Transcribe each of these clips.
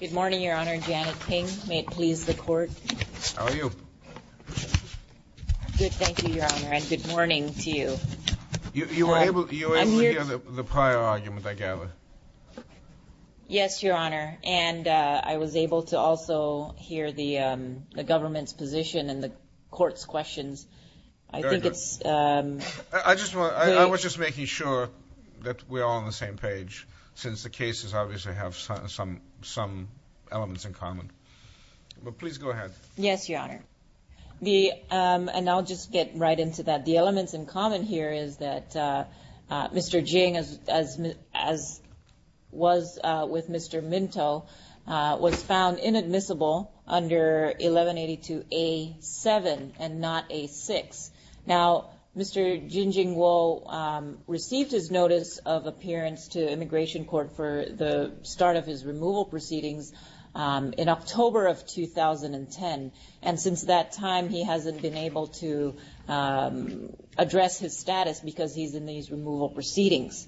Good morning, Your Honor. Janet Ping. May it please the Court? How are you? Good, thank you, Your Honor, and good morning to you. You were able to hear the prior argument, I gather? Yes, Your Honor, and I was able to also hear the government's position and the Court's questions. Very good. I was just making sure that we're all on the same page, since the cases obviously have some elements in common. But please go ahead. Yes, Your Honor. And I'll just get right into that. The elements in common here is that Mr. Jing, as was with Mr. Minto, was found inadmissible under 1182A7 and not A6. Now, Mr. Jin Jingwo received his notice of appearance to immigration court for the start of his removal proceedings in October of 2010. And since that time, he hasn't been able to address his status because he's in these removal proceedings.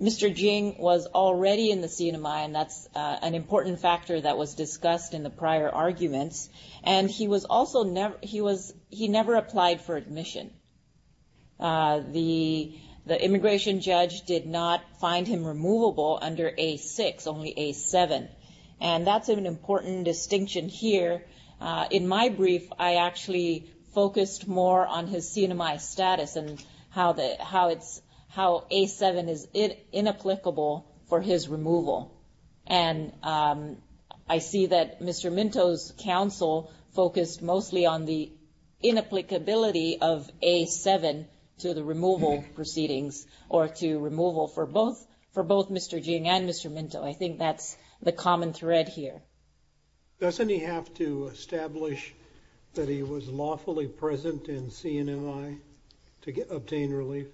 Mr. Jing was already in the CNMI, and that's an important factor that was discussed in the prior arguments. And he never applied for admission. The immigration judge did not find him removable under A6, only A7. And that's an important distinction here. In my brief, I actually focused more on his CNMI status and how A7 is inapplicable for his removal. And I see that Mr. Minto's counsel focused mostly on the inapplicability of A7 to the removal proceedings or to removal for both Mr. Jing and Mr. Minto. I think that's the common thread here. Doesn't he have to establish that he was lawfully present in CNMI to obtain relief?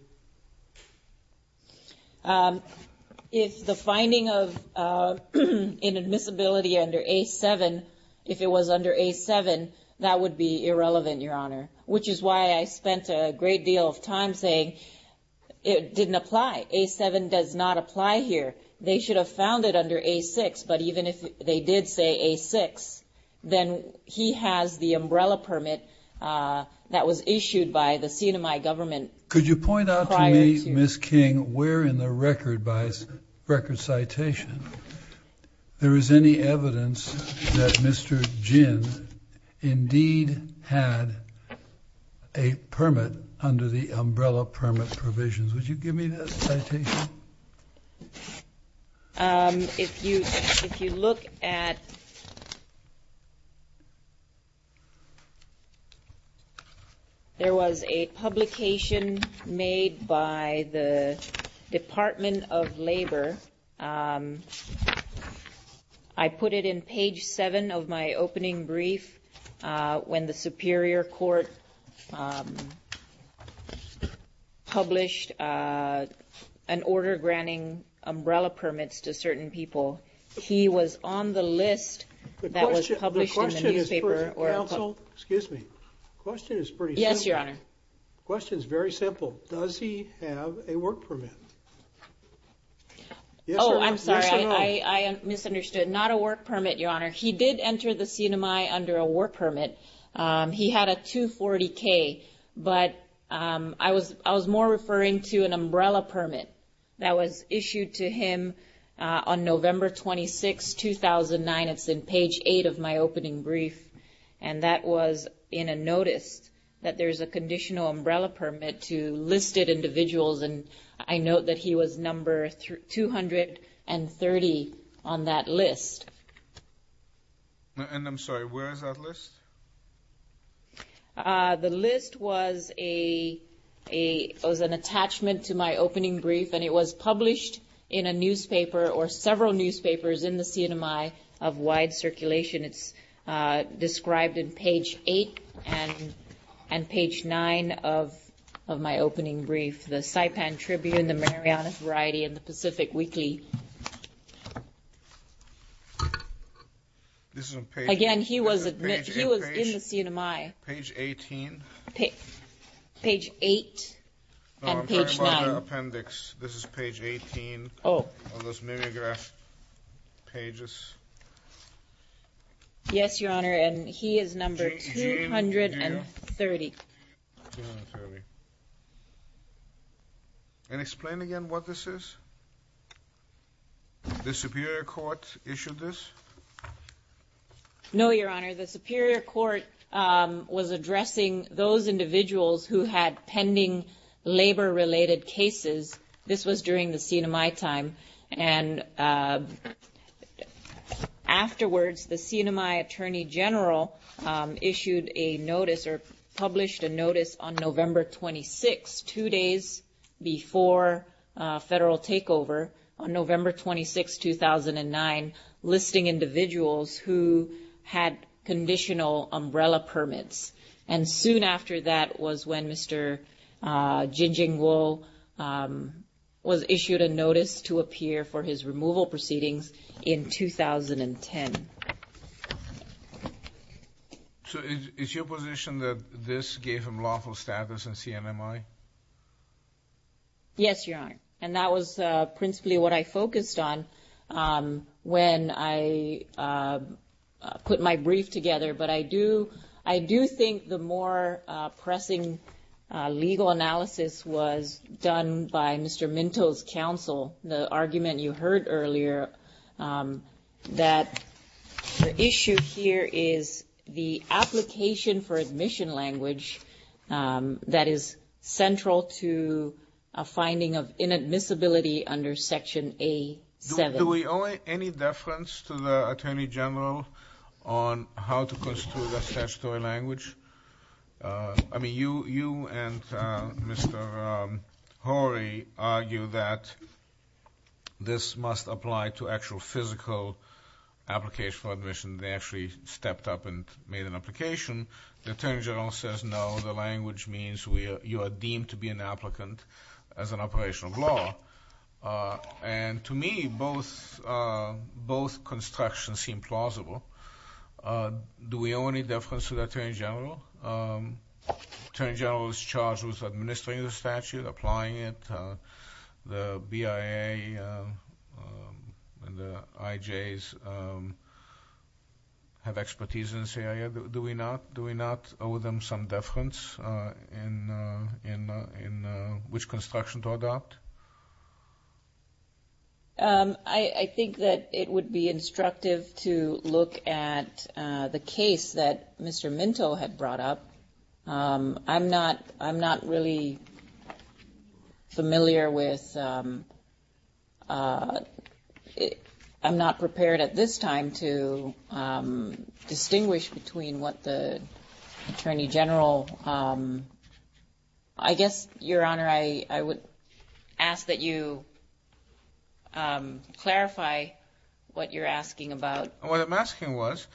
If the finding of inadmissibility under A7, if it was under A7, that would be irrelevant, Your Honor, which is why I spent a great deal of time saying it didn't apply. A7 does not apply here. They should have found it under A6, but even if they did say A6, then he has the umbrella permit that was issued by the CNMI government. Could you point out to me, Ms. King, where in the record by record citation there is any evidence that Mr. Jing indeed had a permit under the umbrella permit provisions? Would you give me that citation? If you look at – there was a publication made by the Department of Labor. I put it in page 7 of my opening brief. When the Superior Court published an order granting umbrella permits to certain people, he was on the list that was published in the newspaper. The question is pretty simple. Yes, Your Honor. The question is very simple. Does he have a work permit? Yes, Your Honor. Oh, I'm sorry, I misunderstood. Not a work permit, Your Honor. He did enter the CNMI under a work permit. He had a 240K, but I was more referring to an umbrella permit that was issued to him on November 26, 2009. It's in page 8 of my opening brief, and that was in a notice that there's a conditional umbrella permit to listed individuals. And I note that he was number 230 on that list. And I'm sorry, where is that list? The list was an attachment to my opening brief, and it was published in a newspaper or several newspapers in the CNMI of wide circulation. It's described in page 8 and page 9 of my opening brief. The Saipan Tribune, the Marianas Variety, and the Pacific Weekly. Again, he was in the CNMI. Page 18? Page 8 and page 9. No, I'm talking about the appendix. This is page 18 of those Mimeograph pages. Yes, Your Honor, and he is number 230. And explain again what this is? The Superior Court issued this? No, Your Honor, the Superior Court was addressing those individuals who had pending labor-related cases. This was during the CNMI time. And afterwards, the CNMI Attorney General issued a notice or published a notice on November 26, two days before federal takeover, on November 26, 2009, listing individuals who had conditional umbrella permits. And soon after that was when Mr. Jingjing Wu was issued a notice to appear for his removal proceedings in 2010. So is your position that this gave him lawful status in CNMI? Yes, Your Honor, and that was principally what I focused on when I put my brief together. But I do think the more pressing legal analysis was done by Mr. Minto's counsel, the argument you heard earlier that the issue here is the application for admission language that is central to a finding of inadmissibility under Section A7. Do we owe any deference to the Attorney General on how to construe the statutory language? I mean, you and Mr. Horry argue that this must apply to actual physical application for admission. They actually stepped up and made an application. The Attorney General says, no, the language means you are deemed to be an applicant as an operation of law. And to me, both constructions seem plausible. Do we owe any deference to the Attorney General? The Attorney General is charged with administering the statute, applying it. The BIA and the IJs have expertise in this area. Do we not owe them some deference in which construction to adopt? I think that it would be instructive to look at the case that Mr. Minto had brought up. I'm not really familiar with, I'm not prepared at this time to distinguish between what the Attorney General, I guess, Your Honor, I would ask that you clarify what you're asking about. What I'm asking was,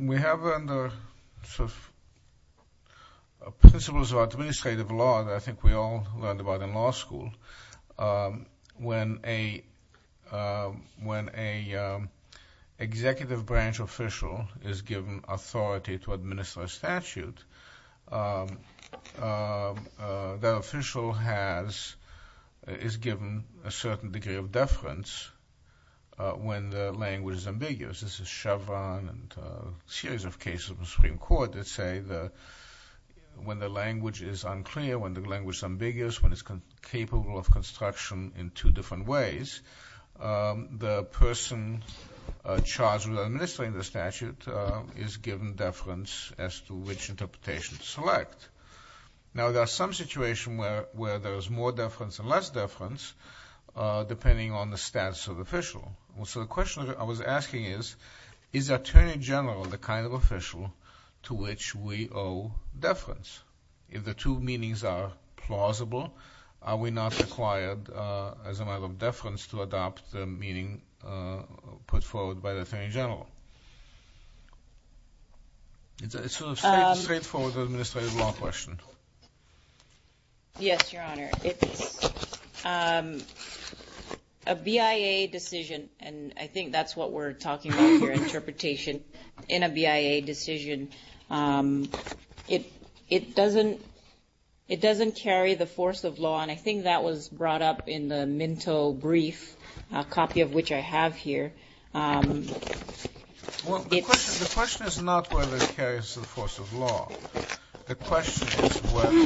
we have under principles of administrative law that I think we all learned about in law school. When an executive branch official is given authority to administer a statute, that official is given a certain degree of deference when the language is ambiguous. This is Chevron and a series of cases in the Supreme Court that say that when the language is unclear, when the language is ambiguous, when it's capable of construction in two different ways, the person charged with administering the statute is given deference as to which interpretation to select. Now there are some situations where there is more deference and less deference, depending on the status of the official. So the question I was asking is, is the Attorney General the kind of official to which we owe deference? If the two meanings are plausible, are we not required, as a matter of deference, to adopt the meaning put forward by the Attorney General? It's a straightforward administrative law question. Yes, Your Honor. It's a BIA decision, and I think that's what we're talking about here, interpretation in a BIA decision. It doesn't carry the force of law, and I think that was brought up in the Minto brief, a copy of which I have here. Well, the question is not whether it carries the force of law. The question is whether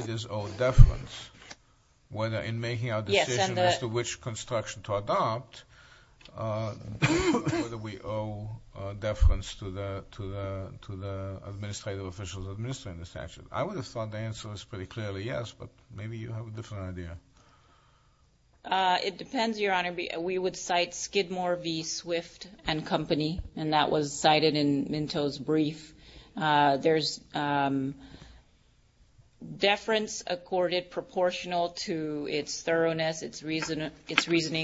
it is owed deference, whether in making our decision as to which construction to adopt, whether we owe deference to the administrative officials administering the statute. I would have thought the answer was pretty clearly yes, but maybe you have a different idea. It depends, Your Honor. We would cite Skidmore v. Swift and Company, and that was cited in Minto's brief. There's deference accorded proportional to its thoroughness, its reasoning,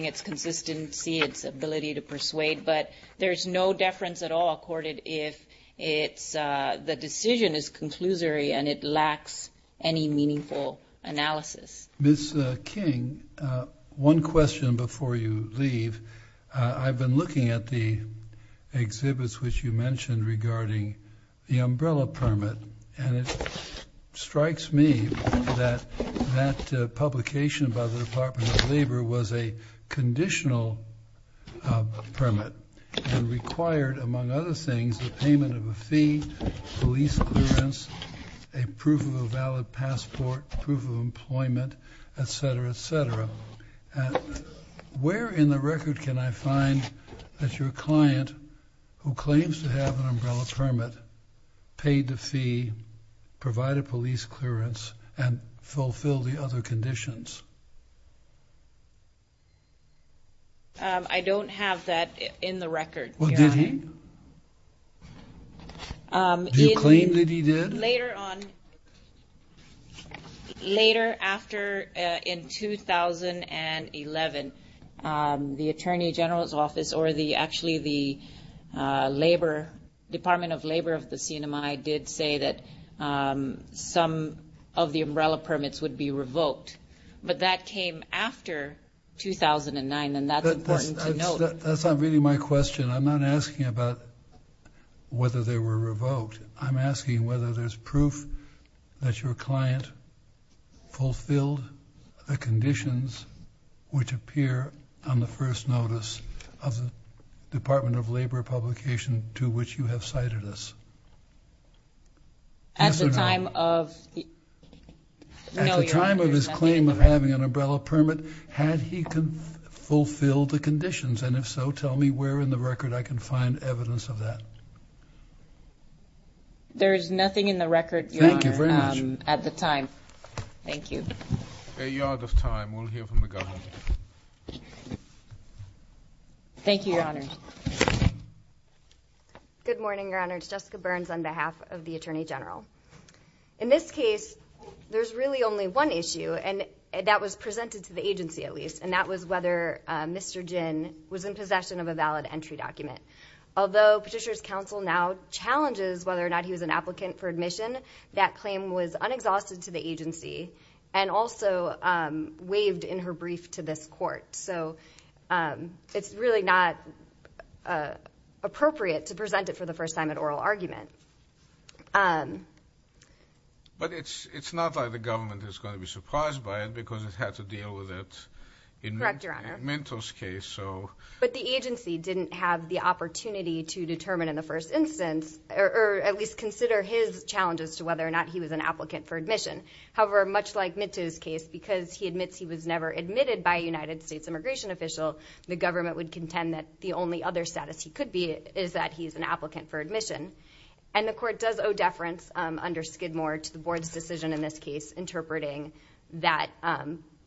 its consistency, its ability to persuade, but there's no deference at all accorded if the decision is conclusory and it lacks any meaningful analysis. Ms. King, one question before you leave. I've been looking at the exhibits which you mentioned regarding the umbrella permit, and it strikes me that that publication by the Department of Labor was a conditional permit and required, among other things, the payment of a fee, police clearance, a proof of a valid passport, proof of employment, etc., etc. Where in the record can I find that your client, who claims to have an umbrella permit, paid the fee, provided police clearance, and fulfilled the other conditions? I don't have that in the record, Your Honor. Well, did he? Do you claim that he did? Later on, later after in 2011, the Attorney General's Office, or actually the Department of Labor of the CNMI, did say that some of the umbrella permits would be revoked, but that came after 2009, and that's important to note. That's not really my question. I'm not asking about whether they were revoked. I'm asking whether there's proof that your client fulfilled the conditions which appear on the first notice of the Department of Labor publication to which you have cited us. Yes or no? At the time of his claim of having an umbrella permit, had he fulfilled the conditions? And if so, tell me where in the record I can find evidence of that. There is nothing in the record, Your Honor, at the time. Thank you very much. Thank you. A yard of time. We'll hear from the Governor. Thank you, Your Honor. Good morning, Your Honor. It's Jessica Burns on behalf of the Attorney General. In this case, there's really only one issue, and that was presented to the agency at least, and that was whether Mr. Ginn was in possession of a valid entry document. Although Petitioner's Counsel now challenges whether or not he was an applicant for admission, that claim was unexhausted to the agency and also waived in her brief to this Court. So it's really not appropriate to present it for the first time at oral argument. But it's not like the government is going to be surprised by it because it had to deal with it in Mentor's case. Correct, Your Honor. But the agency didn't have the opportunity to determine in the first instance, or at least consider his challenges to whether or not he was an applicant for admission. However, much like Mentor's case, because he admits he was never admitted by a United States immigration official, the government would contend that the only other status he could be in is that he is an applicant for admission. And the Court does owe deference under Skidmore to the Board's decision in this case interpreting that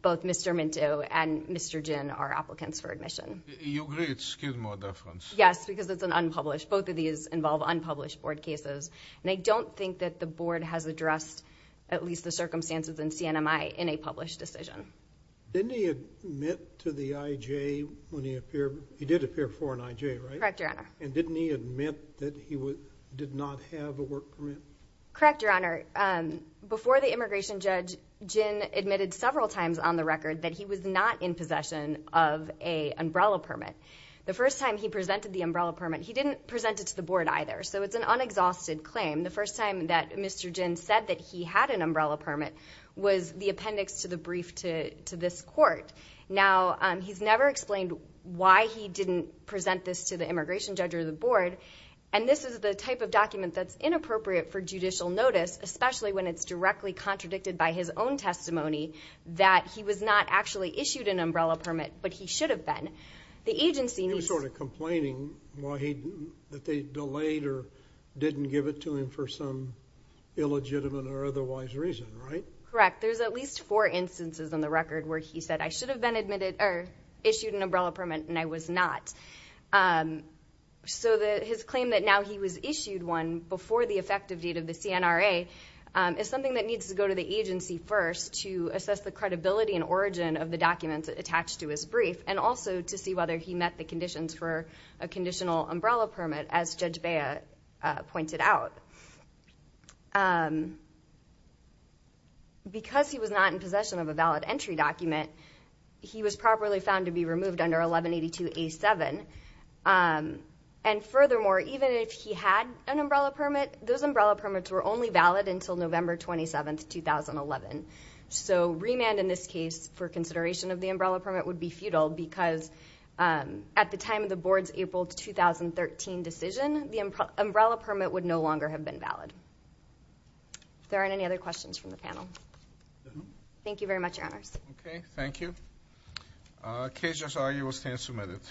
both Mr. Mentor and Mr. Ginn are applicants for admission. You agree it's Skidmore deference? Yes, because it's an unpublished. Both of these involve unpublished Board cases. And I don't think that the Board has addressed at least the circumstances in CNMI in a published decision. Didn't he admit to the IJ when he appeared? He did appear for an IJ, right? Correct, Your Honor. And didn't he admit that he did not have a work permit? Correct, Your Honor. Before the immigration judge, Ginn admitted several times on the record that he was not in possession of an umbrella permit. The first time he presented the umbrella permit, he didn't present it to the Board either. So it's an unexhausted claim. The first time that Mr. Ginn said that he had an umbrella permit was the appendix to the brief to this Court. Now, he's never explained why he didn't present this to the immigration judge or the Board. And this is the type of document that's inappropriate for judicial notice, especially when it's directly contradicted by his own testimony that he was not actually issued an umbrella permit, but he should have been. He was sort of complaining that they delayed or didn't give it to him for some illegitimate or otherwise reason, right? Correct. There's at least four instances on the record where he said, I should have been issued an umbrella permit and I was not. So his claim that now he was issued one before the effective date of the CNRA is something that needs to go to the agency first to assess the credibility and origin of the documents attached to his brief and also to see whether he met the conditions for a conditional umbrella permit, as Judge Bea pointed out. Because he was not in possession of a valid entry document, he was properly found to be removed under 1182A7. And furthermore, even if he had an umbrella permit, those umbrella permits were only valid until November 27, 2011. So remand in this case for consideration of the umbrella permit would be futile because at the time of the Board's April 2013 decision, the umbrella permit would no longer have been valid. If there aren't any other questions from the panel. Thank you very much, Your Honors. Okay, thank you. Case just argued, stand submitted.